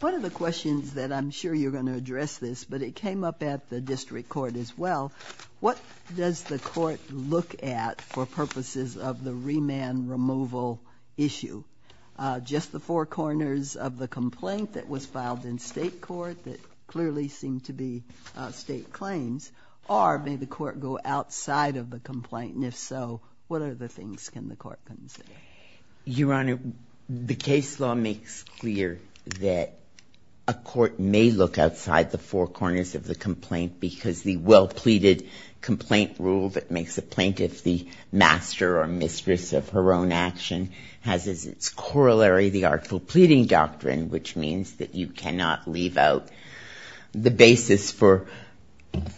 One of the questions that I'm sure you're going to address this, but it came up at the district court as well, what does the court look at for purposes of the remand removal issue? Just the four corners of the complaint that was filed in state court that clearly seemed to be state claims, or may the court go outside of the complaint, and if so, what other things can the court consider? Your Honor, the case law makes clear that a court may look outside the four corners of the complaint because the well-pleaded complaint rule that makes a plaintiff the master or mistress of her own action has as its corollary the artful pleading doctrine, which means that you cannot leave out the basis for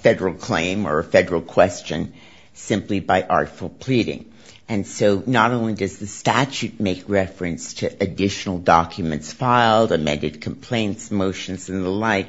federal claim or a federal question simply by artful pleading. And so not only does the statute make reference to additional documents filed, amended complaints, motions and the like,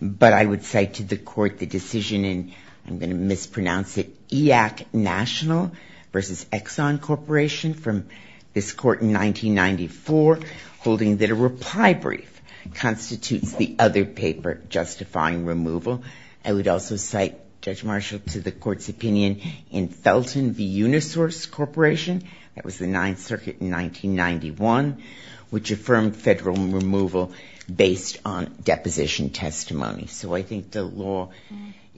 but I would say to the court the decision in, I'm going to mispronounce it, EAC National versus Exxon Corporation from this court in 1994 holding that a reply brief constitutes the other paper justifying removal. I would also cite, Judge Marshall, to the court's opinion in Felton v. Unisource Corporation, that was the Ninth Circuit in 1991, which affirmed federal removal based on deposition testimony. So I think the law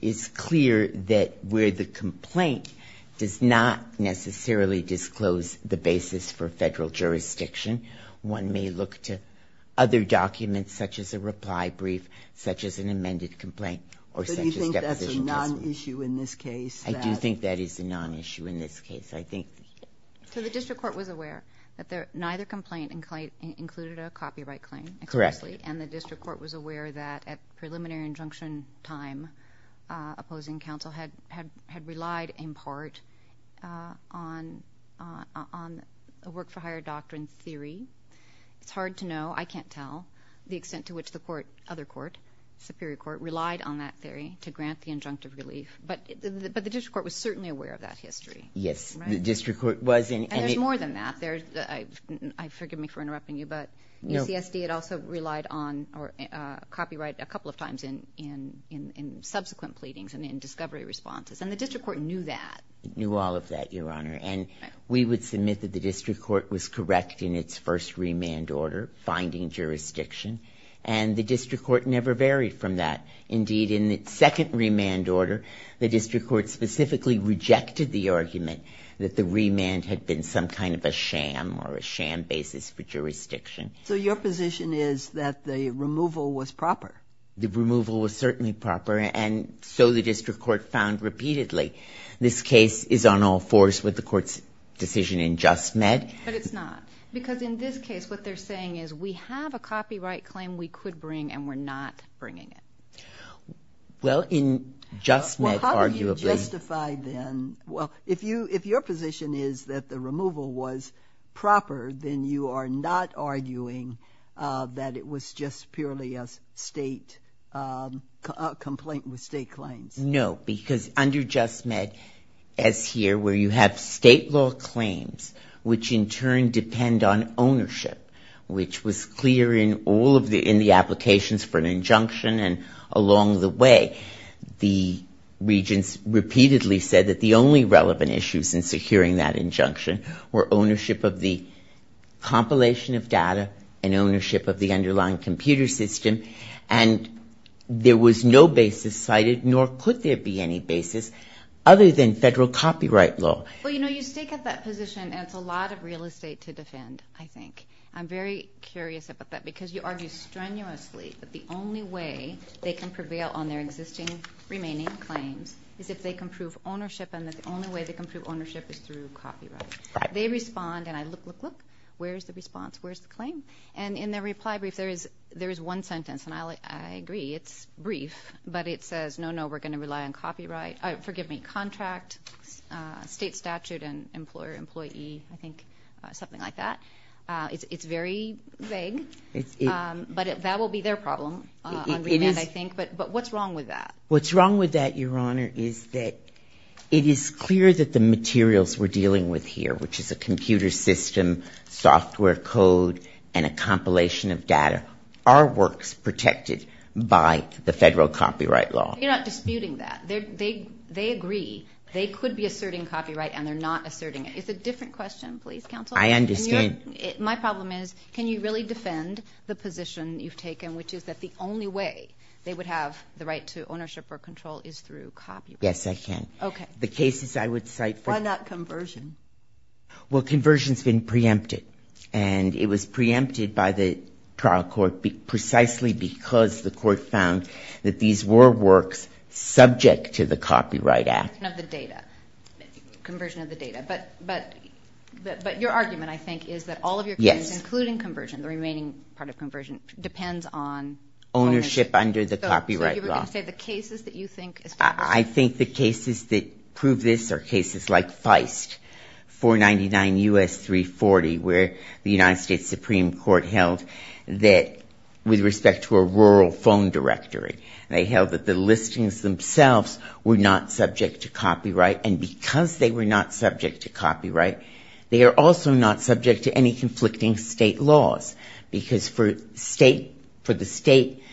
is clear that where the complaint does not necessarily disclose the basis for federal jurisdiction, one may look to other documents such as a reply brief, such as an amended complaint or such as deposition testimony. Do you think that's a non-issue in this case? I do think that is a non-issue in this case. So the district court was aware that neither complaint included a copyright claim? Correct. And the district court was aware that at preliminary injunction time, opposing counsel had relied in part on a work-for-hire doctrine theory. It's hard to know. I can't tell the extent to which the court, other court, superior court, relied on that theory to grant the injunctive relief. But the district court was certainly aware of that history. Yes, the district court was. And there's more than that. I forgive me for interrupting you, but UCSD had also relied on copyright a couple of times in subsequent pleadings and in discovery responses, and the district court knew that. It knew all of that, Your Honor. And we would submit that the district court was correct in its first remand order, finding jurisdiction, and the district court never varied from that. Indeed, in its second remand order, the district court specifically rejected the argument that the remand had been some kind of a sham or a sham basis for jurisdiction. So your position is that the removal was proper? The removal was certainly proper, and so the district court found repeatedly. This case is on all fours with the court's decision in just med. But it's not, because in this case what they're saying is we have a copyright claim we could bring and we're not bringing it. Well, in just med, arguably. Well, how do you justify then? Well, if your position is that the removal was proper, then you are not arguing that it was just purely a state complaint with state claims. No, because under just med, as here, where you have state law claims which in turn depend on ownership, which was clear in all of the applications for an injunction, and along the way the regents repeatedly said that the only relevant issues in securing that injunction were ownership of the compilation of data and ownership of the underlying computer system. And there was no basis cited, nor could there be any basis, other than federal copyright law. Well, you know, you stake out that position, and it's a lot of real estate to defend, I think. I'm very curious about that, because you argue strenuously that the only way they can prevail on their existing remaining claims is if they can prove ownership, and that the only way they can prove ownership is through copyright. They respond, and I look, look, look. Where is the response? Where is the claim? And in their reply brief, there is one sentence, and I agree, it's brief, but it says, no, no, we're going to rely on copyright, forgive me, contract, state statute, and employer, employee, I think something like that. It's very vague, but that will be their problem on remand, I think. But what's wrong with that? Your Honor, is that it is clear that the materials we're dealing with here, which is a computer system, software code, and a compilation of data, are works protected by the federal copyright law. You're not disputing that. They agree. They could be asserting copyright, and they're not asserting it. It's a different question, please, counsel. I understand. My problem is, can you really defend the position you've taken, which is that the only way they would have the right to ownership or control is through copyright? Yes, I can. Okay. The cases I would cite for. Why not conversion? Well, conversion's been preempted, and it was preempted by the trial court precisely because the court found that these were works subject to the Copyright Act. Conversion of the data. Conversion of the data. But your argument, I think, is that all of your cases, including conversion, and the remaining part of conversion depends on ownership. Ownership under the copyright law. So you were going to say the cases that you think... I think the cases that prove this are cases like Feist, 499 U.S. 340, where the United States Supreme Court held that, with respect to a rural phone directory, they held that the listings themselves were not subject to copyright, and because they were not subject to copyright, they are also not subject to any conflicting state laws, because for the state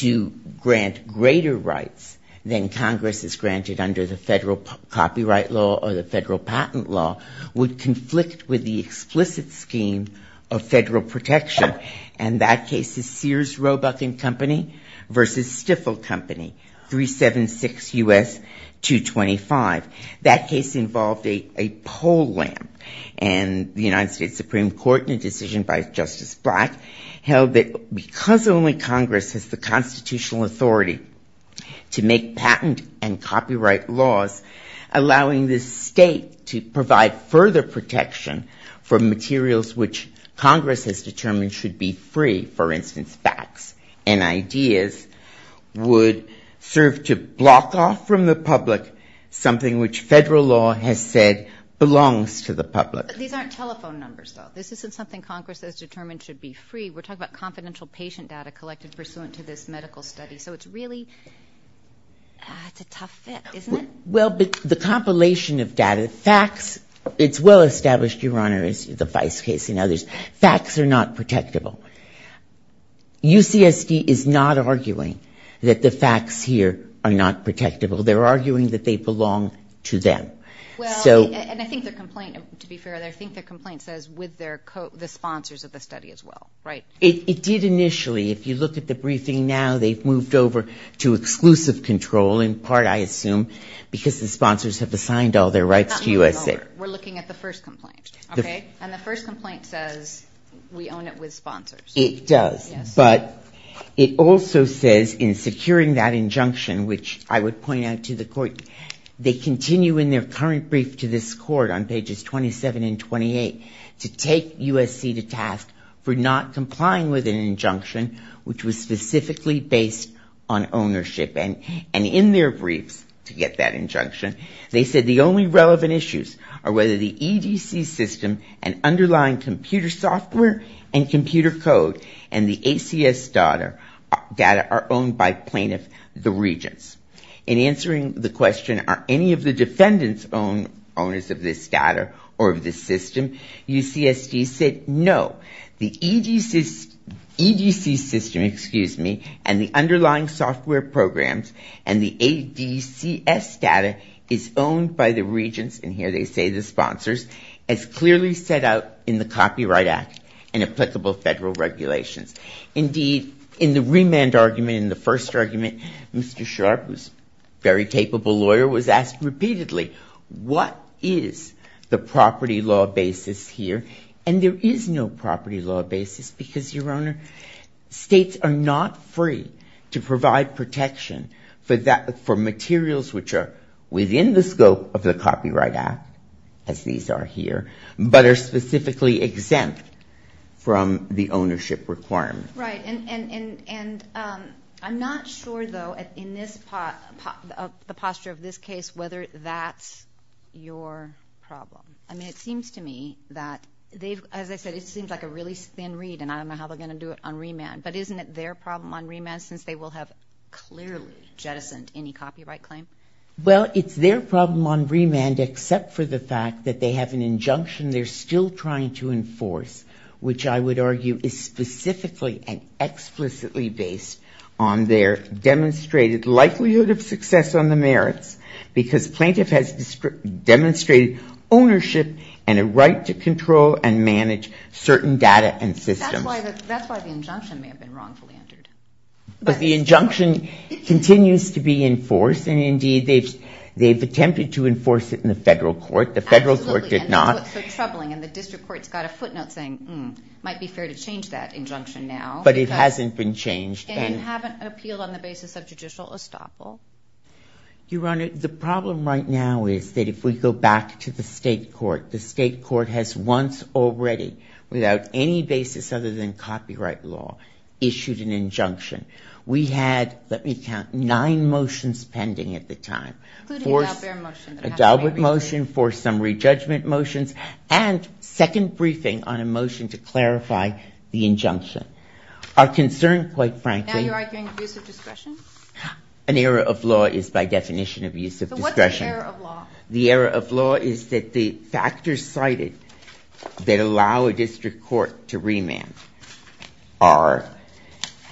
to grant greater rights than Congress has granted under the federal copyright law or the federal patent law would conflict with the explicit scheme of federal protection. And that case is Sears Roebuck & Company v. Stifel Company, 376 U.S. 225. That case involved a poll lamp, and the United States Supreme Court in a decision by Justice Black held that because only Congress has the constitutional authority to make patent and copyright laws, allowing the state to provide further protection for materials which Congress has determined should be free, for instance, facts and ideas, would serve to block off from the public something which federal law has said belongs to the public. But these aren't telephone numbers, though. This isn't something Congress has determined should be free. We're talking about confidential patient data collected pursuant to this medical study. So it's really a tough fit, isn't it? Well, the compilation of data, facts, it's well established, Your Honor, as the Feist case and others, facts are not protectable. UCSD is not arguing that the facts here are not protectable. They're arguing that they belong to them. Well, and I think the complaint, to be fair, I think the complaint says with the sponsors of the study as well, right? It did initially. If you look at the briefing now, they've moved over to exclusive control in part, I assume, because the sponsors have assigned all their rights to USAID. Not moved over. We're looking at the first complaint, okay? And the first complaint says we own it with sponsors. It does. But it also says in securing that injunction, which I would point out to the court, they continue in their current brief to this court on pages 27 and 28 to take USC to task for not complying with an injunction which was specifically based on ownership. And in their briefs to get that injunction, they said the only relevant issues are whether the EDC system and underlying computer software and computer code and the ACS data are owned by plaintiff, the regents. In answering the question, are any of the defendants owners of this data or of this system, UCSD said no. The EDC system and the underlying software programs and the ADCS data is owned by the regents, and here they say the sponsors, as clearly set out in the Copyright Act and applicable federal regulations. Indeed, in the remand argument, in the first argument, Mr. Sharp, who's a very capable lawyer, was asked repeatedly, what is the property law basis here? And there is no property law basis because, Your Honor, states are not free to provide protection for materials which are within the scope of the Copyright Act, as these are here, but are specifically exempt from the ownership requirement. Right. And I'm not sure, though, in the posture of this case, whether that's your problem. I mean, it seems to me that they've, as I said, it seems like a really thin read, and I don't know how they're going to do it on remand, but isn't it their problem on remand since they will have clearly jettisoned any copyright claim? Well, it's their problem on remand, except for the fact that they have an injunction they're still trying to enforce, which I would argue is specifically and explicitly based on their demonstrated likelihood of success on the merits because plaintiff has demonstrated ownership and a right to control and manage certain data and systems. That's why the injunction may have been wrongfully entered. But the injunction continues to be enforced, and indeed they've attempted to enforce it in the federal court. The federal court did not. Absolutely, and that's what's so troubling, and the district court's got a footnote saying, hmm, might be fair to change that injunction now. But it hasn't been changed. And haven't appealed on the basis of judicial estoppel. Your Honor, the problem right now is that if we go back to the state court, the state court has once already, without any basis other than copyright law, issued an injunction. We had, let me count, nine motions pending at the time. Including the Albert motion. The Albert motion, forced summary judgment motions, and second briefing on a motion to clarify the injunction. Our concern, quite frankly. Now you're arguing abuse of discretion? An error of law is by definition abuse of discretion. So what's the error of law? The error of law is that the factors cited that allow a district court to remand are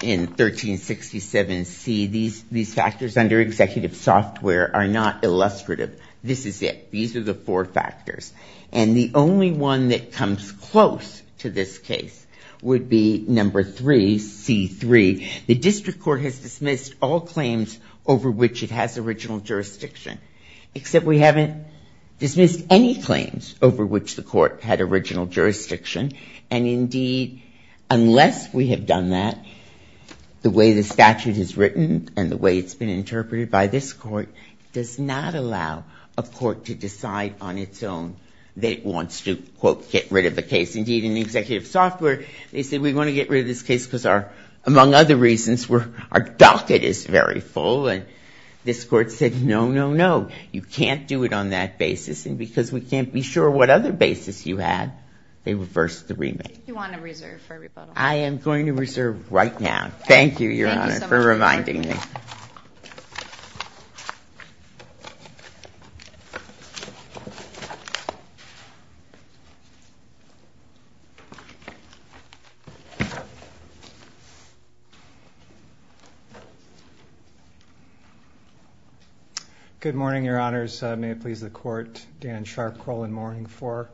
in 1367C. These factors under executive software are not illustrative. This is it. These are the four factors. And the only one that comes close to this case would be number three, C3. The district court has dismissed all claims over which it has original jurisdiction. Except we haven't dismissed any claims over which the court had original jurisdiction. And, indeed, unless we have done that, the way the statute is written and the way it's been interpreted by this court does not allow a court to decide on its own that it wants to, quote, get rid of the case. Indeed, in the executive software, they said we want to get rid of this case because our, among other reasons, our docket is very full. And this court said, no, no, no, you can't do it on that basis because we can't be sure what other basis you had. They reversed the remand. You want to reserve for a rebuttal? I am going to reserve right now. Thank you so much. Good morning, Your Honors. May it please the court. Dan Sharp, Corlin Moring for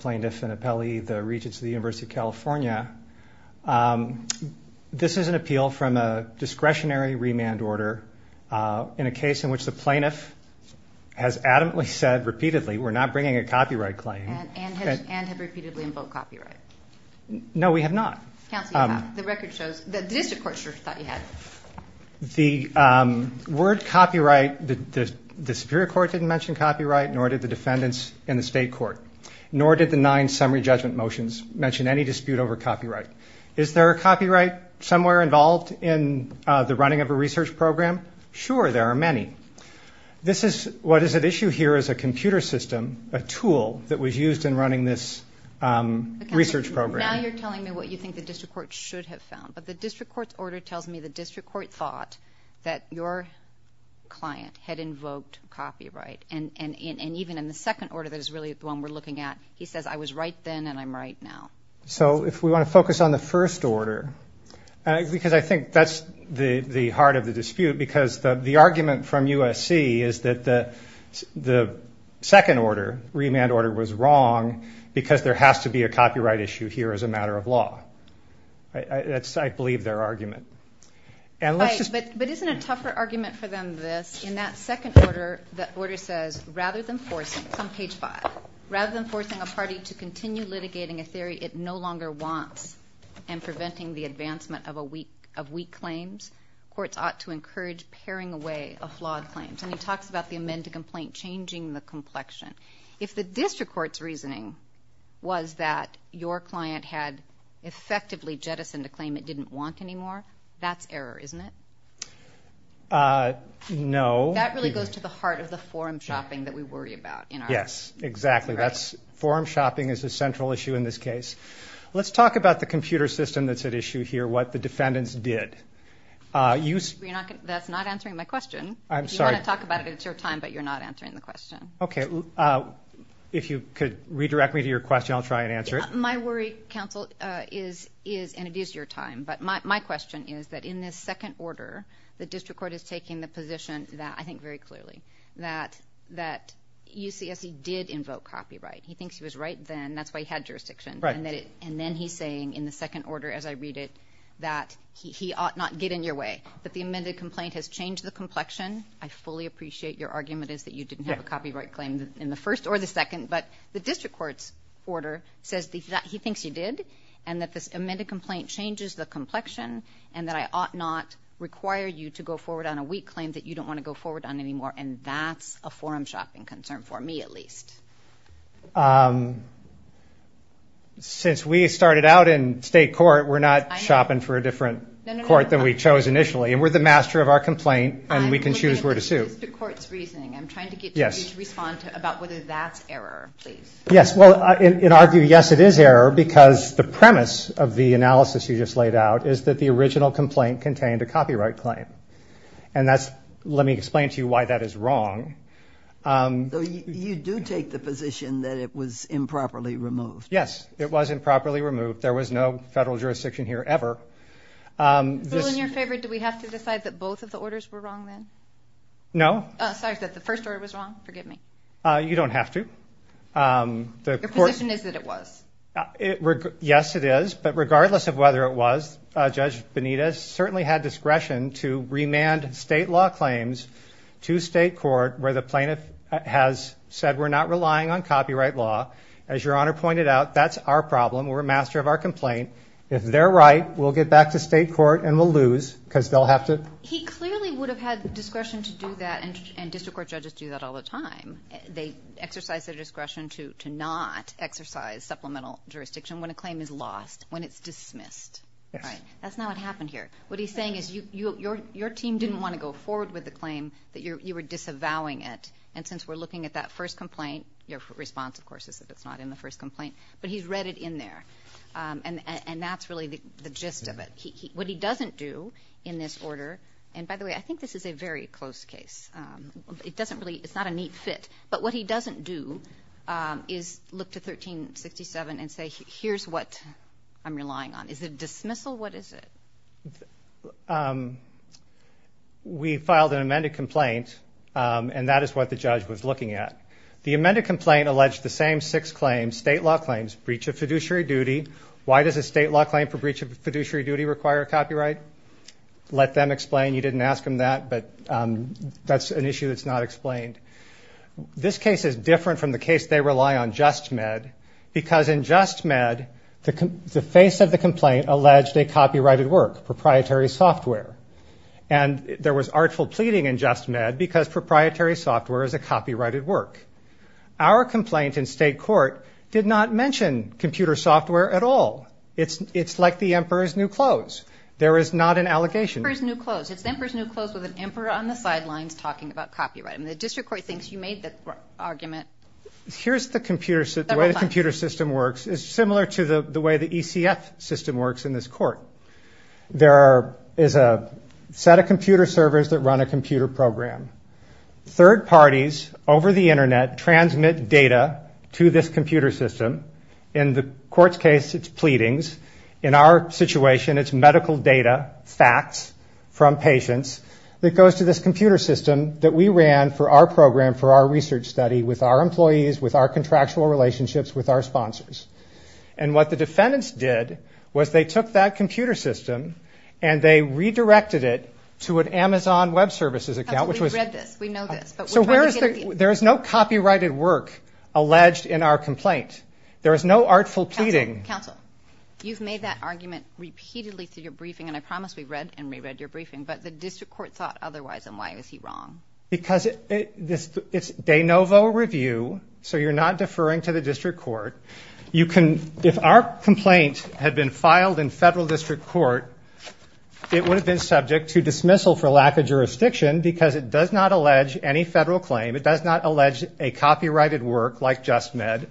Plaintiff and Appellee, the Regents of the University of California. This is an appeal from a discretionary remand order in a case in which the plaintiff has adamantly said repeatedly we're not bringing a copyright claim. And have repeatedly invoked copyright. No, we have not. Counsel, you have. The record shows. The district court sure thought you had. The word copyright, the superior court didn't mention copyright, nor did the defendants in the state court, nor did the nine summary judgment motions mention any dispute over copyright. Is there a copyright somewhere involved in the running of a research program? Sure, there are many. This is what is at issue here is a computer system, a tool that was used in running this research program. Now you're telling me what you think the district court should have found. But the district court's order tells me the district court thought that your client had invoked copyright. And even in the second order that is really the one we're looking at, he says I was right then and I'm right now. So if we want to focus on the first order, because I think that's the heart of the dispute, because the argument from USC is that the second order, remand order, was wrong because there has to be a copyright issue here as a matter of law. That's, I believe, their argument. Right, but isn't a tougher argument for them this? In that second order, the order says rather than forcing, it's on page five, rather than forcing a party to continue litigating a theory it no longer wants and preventing the advancement of weak claims, courts ought to encourage paring away of flawed claims. And he talks about the amend to complaint changing the complexion. If the district court's reasoning was that your client had effectively jettisoned a claim it didn't want anymore, that's error, isn't it? No. That really goes to the heart of the forum shopping that we worry about. Yes, exactly. Forum shopping is a central issue in this case. Let's talk about the computer system that's at issue here, what the defendants did. That's not answering my question. I'm sorry. If you want to talk about it, it's your time, but you're not answering the question. Okay. If you could redirect me to your question, I'll try and answer it. My worry, counsel, is, and it is your time, but my question is that in this second order, the district court is taking the position that, I think very clearly, that UCSC did invoke copyright. He thinks he was right then. That's why he had jurisdiction. Right. And then he's saying in the second order as I read it that he ought not get in your way, that the amended complaint has changed the complexion. I fully appreciate your argument is that you didn't have a copyright claim in the first or the second, but the district court's order says that he thinks you did and that this amended complaint changes the complexion and that I ought not require you to go forward on a weak claim that you don't want to go forward on anymore, and that's a forum shopping concern for me at least. Since we started out in state court, we're not shopping for a different court than we chose initially, and we're the master of our complaint and we can choose where to sue. I'm looking at the district court's reasoning. I'm trying to get you to respond about whether that's error, please. Yes. Well, in our view, yes, it is error because the premise of the analysis you just laid out is that the original complaint contained a copyright claim, and let me explain to you why that is wrong. You do take the position that it was improperly removed. Yes. It was improperly removed. There was no federal jurisdiction here ever. Bill, in your favor, do we have to decide that both of the orders were wrong then? No. Sorry, is that the first order was wrong? Forgive me. You don't have to. Your position is that it was. Yes, it is, but regardless of whether it was, Judge Benitez certainly had discretion to remand state law claims to state court where the plaintiff has said we're not relying on copyright law. As Your Honor pointed out, that's our problem. We're a master of our complaint. If they're right, we'll get back to state court and we'll lose because they'll have to. He clearly would have had discretion to do that, and district court judges do that all the time. They exercise their discretion to not exercise supplemental jurisdiction when a claim is lost, when it's dismissed. Yes. That's not what happened here. What he's saying is your team didn't want to go forward with the claim, that you were disavowing it, and since we're looking at that first complaint, your response, of course, is that it's not in the first complaint, but he's read it in there, and that's really the gist of it. What he doesn't do in this order, and by the way, I think this is a very close case. It doesn't really ñ it's not a neat fit, but what he doesn't do is look to 1367 and say here's what I'm relying on. Is it dismissal? What is it? We filed an amended complaint, and that is what the judge was looking at. The amended complaint alleged the same six claims, state law claims, breach of fiduciary duty. Why does a state law claim for breach of fiduciary duty require a copyright? Let them explain. You didn't ask them that, but that's an issue that's not explained. This case is different from the case they rely on, JustMed, because in JustMed the face of the complaint alleged a copyrighted work, proprietary software, and there was artful pleading in JustMed because proprietary software is a copyrighted work. Our complaint in state court did not mention computer software at all. It's like the Emperor's New Clothes. There is not an allegation. It's the Emperor's New Clothes with an emperor on the sidelines talking about copyright, and the district court thinks you made the argument several times. Here's the way the computer system works. It's similar to the way the ECF system works in this court. There is a set of computer servers that run a computer program. Third parties over the Internet transmit data to this computer system. In the court's case, it's pleadings. In our situation, it's medical data, facts from patients, that goes to this computer system that we ran for our program for our research study with our employees, with our contractual relationships, with our sponsors. And what the defendants did was they took that computer system and they redirected it to an Amazon Web Services account. Counsel, we've read this. We know this, but we're trying to get a feeling. There is no copyrighted work alleged in our complaint. There is no artful pleading. Counsel, you've made that argument repeatedly through your briefing, and I promise we've read and reread your briefing, but the district court thought otherwise, and why is he wrong? Because it's de novo review, so you're not deferring to the district court. If our complaint had been filed in federal district court, it would have been subject to dismissal for lack of jurisdiction because it does not allege any federal claim, it does not allege a copyrighted work like JustMed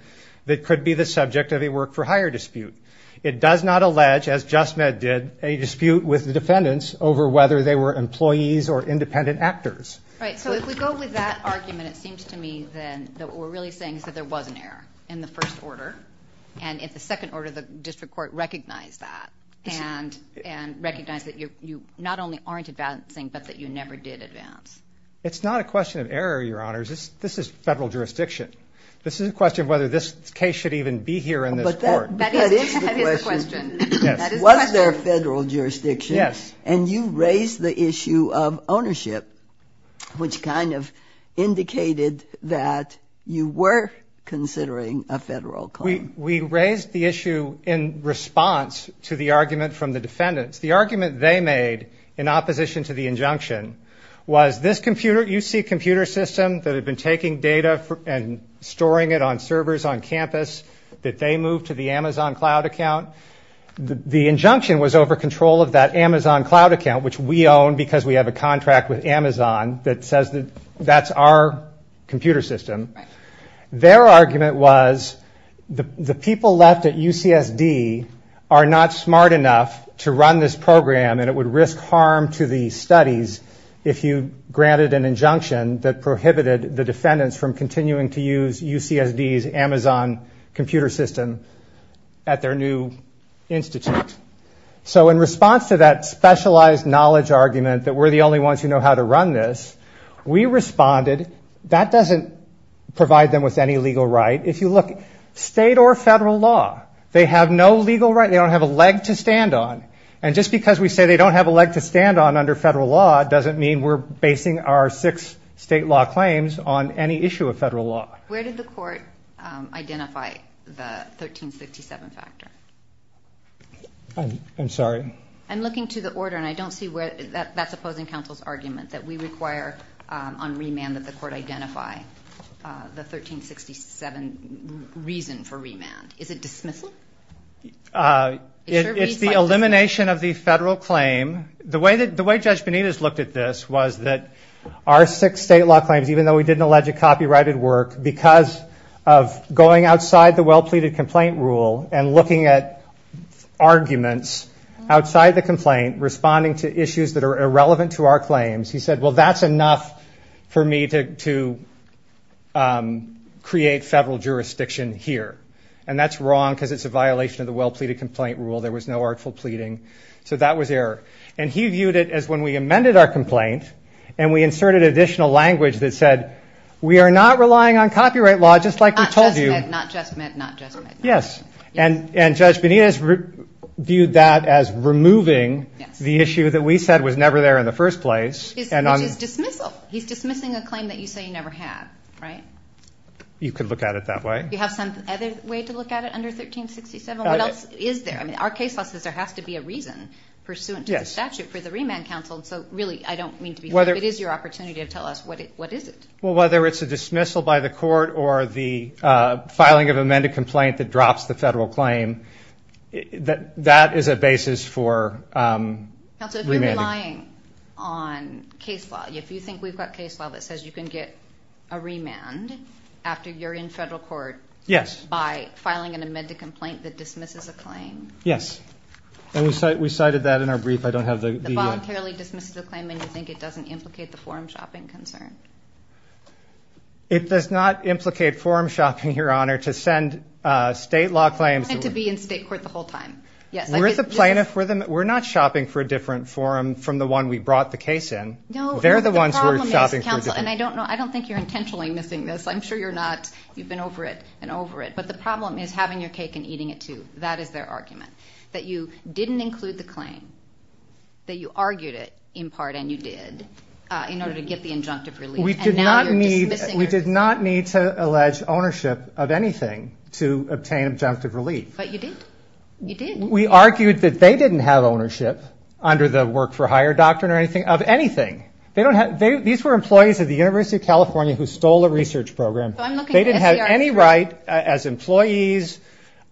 that could be the subject of a work-for-hire dispute. It does not allege, as JustMed did, a dispute with the defendants over whether they were employees or independent actors. Right, so if we go with that argument, it seems to me then that what we're really saying is that there was an error in the first order, and in the second order, the district court recognized that and recognized that you not only aren't advancing, but that you never did advance. It's not a question of error, Your Honors. This is federal jurisdiction. This is a question of whether this case should even be here in this court. That is the question. Was there federal jurisdiction? Yes. And you raise the issue of ownership, which kind of indicated that you were considering a federal claim. We raised the issue in response to the argument from the defendants. The argument they made in opposition to the injunction was this computer, UC computer system, that had been taking data and storing it on servers on campus, that they moved to the Amazon cloud account. The injunction was over control of that Amazon cloud account, which we own because we have a contract with Amazon that says that that's our computer system. Their argument was the people left at UCSD are not smart enough to run this program, and it would risk harm to the studies if you granted an injunction that prohibited the defendants from continuing to use UCSD's Amazon computer system at their new institute. So in response to that specialized knowledge argument that we're the only ones who know how to run this, we responded, that doesn't provide them with any legal right. If you look, state or federal law, they have no legal right. They don't have a leg to stand on. And just because we say they don't have a leg to stand on under federal law doesn't mean we're basing our six state law claims on any issue of federal law. Where did the court identify the 1367 factor? I'm sorry. I'm looking to the order, and I don't see where... That's opposing counsel's argument, that we require on remand that the court identify the 1367 reason for remand. Is it dismissal? It's the elimination of the federal claim. The way Judge Benitez looked at this was that our six state law claims, even though we did an alleged copyrighted work, because of going outside the well-pleaded complaint rule and looking at arguments outside the complaint, responding to issues that are irrelevant to our claims, he said, well, that's enough for me to create federal jurisdiction here. And that's wrong because it's a violation of the well-pleaded complaint rule. There was no artful pleading. So that was error. And he viewed it as when we amended our complaint and we inserted additional language that said, we are not relying on copyright law just like we told you. Not just meant, not just meant, not just meant. Yes, and Judge Benitez viewed that as removing the issue that we said was never there in the first place. Which is dismissal. He's dismissing a claim that you say you never had, right? You could look at it that way. Do you have some other way to look at it under 1367? What else is there? I mean, our case law says there has to be a reason pursuant to the statute for the remand counsel, so really I don't mean to be mean, but it is your opportunity to tell us what is it. Well, whether it's a dismissal by the court or the filing of amended complaint that drops the federal claim, that is a basis for remanding. Counsel, if you're relying on case law, if you think we've got case law that says you can get a remand after you're in federal court by filing an amended complaint that dismisses a claim. Yes, and we cited that in our brief. It voluntarily dismisses a claim and you think it doesn't implicate the forum shopping concern? It does not implicate forum shopping, Your Honor, to send state law claims. I wanted to be in state court the whole time. We're not shopping for a different forum from the one we brought the case in. They're the ones who are shopping for a different forum. And I don't think you're intentionally missing this. I'm sure you're not. You've been over it and over it. But the problem is having your cake and eating it too. That is their argument. That you didn't include the claim, that you argued it in part, and you did, in order to get the injunctive relief. And now you're dismissing it. We did not need to allege ownership of anything to obtain injunctive relief. But you did. You did. We argued that they didn't have ownership under the work-for-hire doctrine of anything. These were employees of the University of California who stole a research program. They didn't have any right as employees,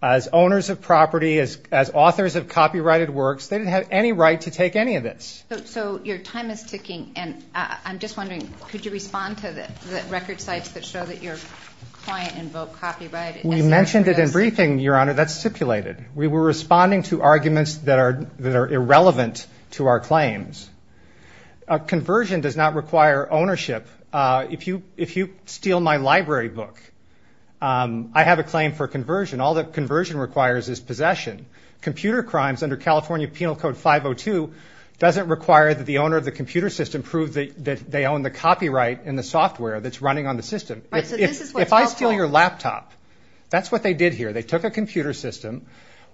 as owners of property, as authors of copyrighted works, they didn't have any right to take any of this. So your time is ticking, and I'm just wondering, could you respond to the record sites that show that your client invoked copyright? We mentioned it in briefing, Your Honor. That's stipulated. We were responding to arguments that are irrelevant to our claims. Conversion does not require ownership. If you steal my library book, I have a claim for conversion. All that conversion requires is possession. Computer crimes under California Penal Code 502 doesn't require that the owner of the computer system prove that they own the copyright in the software that's running on the system. If I steal your laptop, that's what they did here. They took a computer system.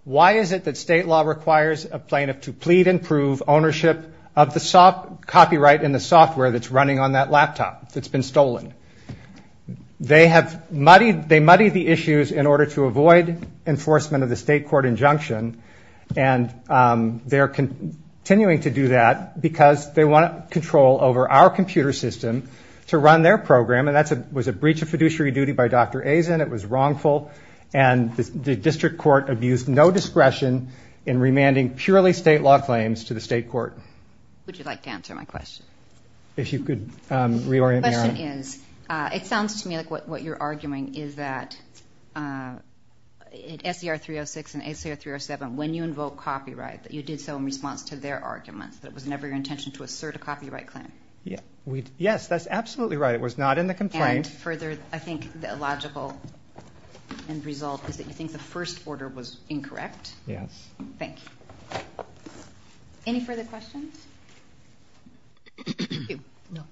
Why is it that state law requires a plaintiff to plead and prove ownership of the copyright in the software that's running on that laptop that's been stolen? They have muddied the issues in order to avoid enforcement of the state court injunction, and they're continuing to do that because they want control over our computer system to run their program, and that was a breach of fiduciary duty by Dr. Azen. It was wrongful, and the district court abused no discretion in remanding purely state law claims to the state court. Would you like to answer my question? If you could reorient me, Your Honor. The question is, it sounds to me like what you're arguing is that S.E.R. 306 and S.E.R. 307, when you invoke copyright, that you did so in response to their arguments, that it was never your intention to assert a copyright claim. Yes, that's absolutely right. It was not in the complaint. And further, I think the logical end result is that you think the first order was incorrect. Yes. Thank you. Any further questions? Thank you. No.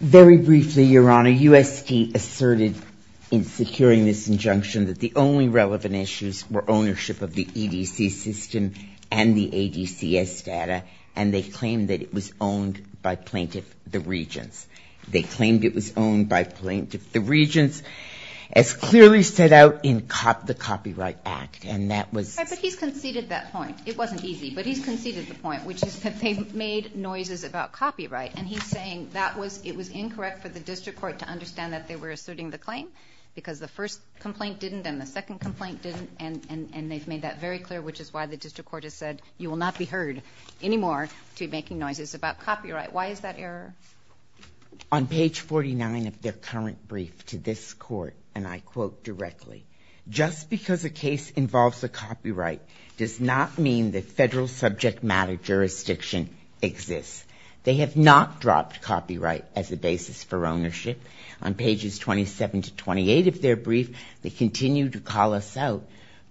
Very briefly, Your Honor, U.S. State asserted in securing this injunction that the only relevant issues were ownership of the EDC system and the ADCS data, and they claimed that it was owned by plaintiff, the Regents. They claimed it was owned by plaintiff, the Regents, as clearly set out in the Copyright Act, and that was... Right, but he's conceded that point. It wasn't easy, but he's conceded the point, which is that they made noises about copyright, and he's saying it was incorrect for the district court to understand that they were asserting the claim because the first complaint didn't and the second complaint didn't, and they've made that very clear, which is why the district court has said you will not be heard anymore to be making noises about copyright. Why is that error? On page 49 of their current brief to this court, and I quote directly, just because a case involves a copyright does not mean that federal subject matter jurisdiction exists. They have not dropped copyright as a basis for ownership. On pages 27 to 28 of their brief, they continue to call us out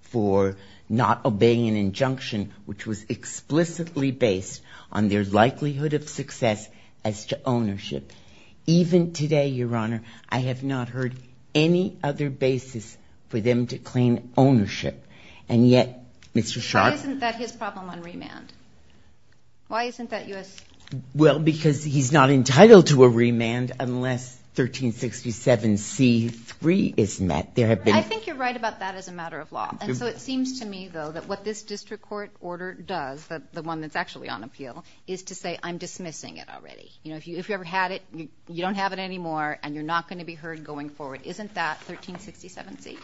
for not obeying an injunction which was explicitly based on their likelihood of success as to ownership. Even today, Your Honour, I have not heard any other basis for them to claim ownership, and yet, Mr. Sharpe... Why isn't that his problem on remand? Why isn't that U.S.? Well, because he's not entitled to a remand unless 1367c3 is met. I think you're right about that as a matter of law, and so it seems to me, though, that what this district court order does, the one that's actually on appeal, is to say I'm dismissing it already. You know, if you ever had it, you don't have it anymore, and you're not going to be heard going forward. Isn't that 1367c?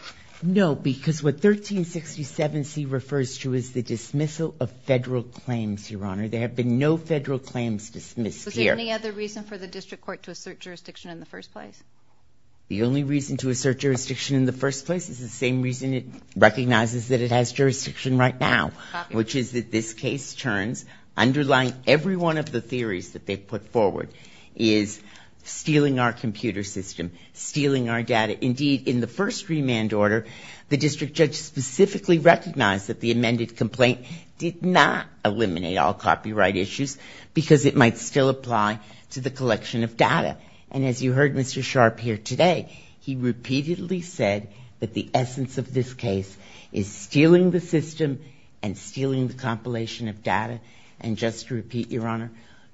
No, because what 1367c refers to is the dismissal of federal claims, Your Honour. There have been no federal claims dismissed here. Is there any other reason for the district court to assert jurisdiction in the first place? The only reason to assert jurisdiction in the first place is the same reason it recognizes that it has jurisdiction right now... Copy. ...which is that this case turns, underlying every one of the theories that they've put forward, is stealing our computer system, stealing our data. Indeed, in the first remand order, the district judge specifically recognized that the amended complaint did not eliminate all copyright issues because it might still apply to the collection of data. And as you heard Mr. Sharp here today, he repeatedly said that the essence of this case is stealing the system and stealing the compilation of data. And just to repeat, Your Honour,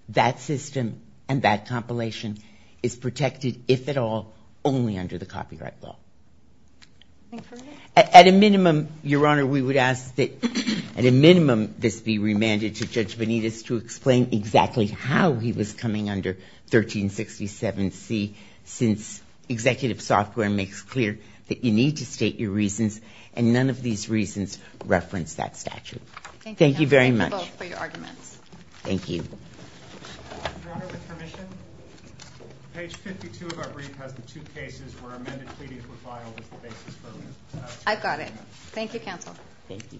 that system and that compilation is protected, if at all, only under the copyright law. Thank you. At a minimum, Your Honour, we would ask that, at a minimum, this be remanded to Judge Benitez to explain exactly how he was coming under 1367c since executive software makes clear that you need to state your reasons and none of these reasons reference that statute. Thank you. Thank you very much. Thank you both for your arguments. Thank you. Your Honour, with permission, page 52 of our brief has the two cases where amended pleadings were filed as the basis for remand. I've got it. Thank you, counsel. Thank you. Thank you all.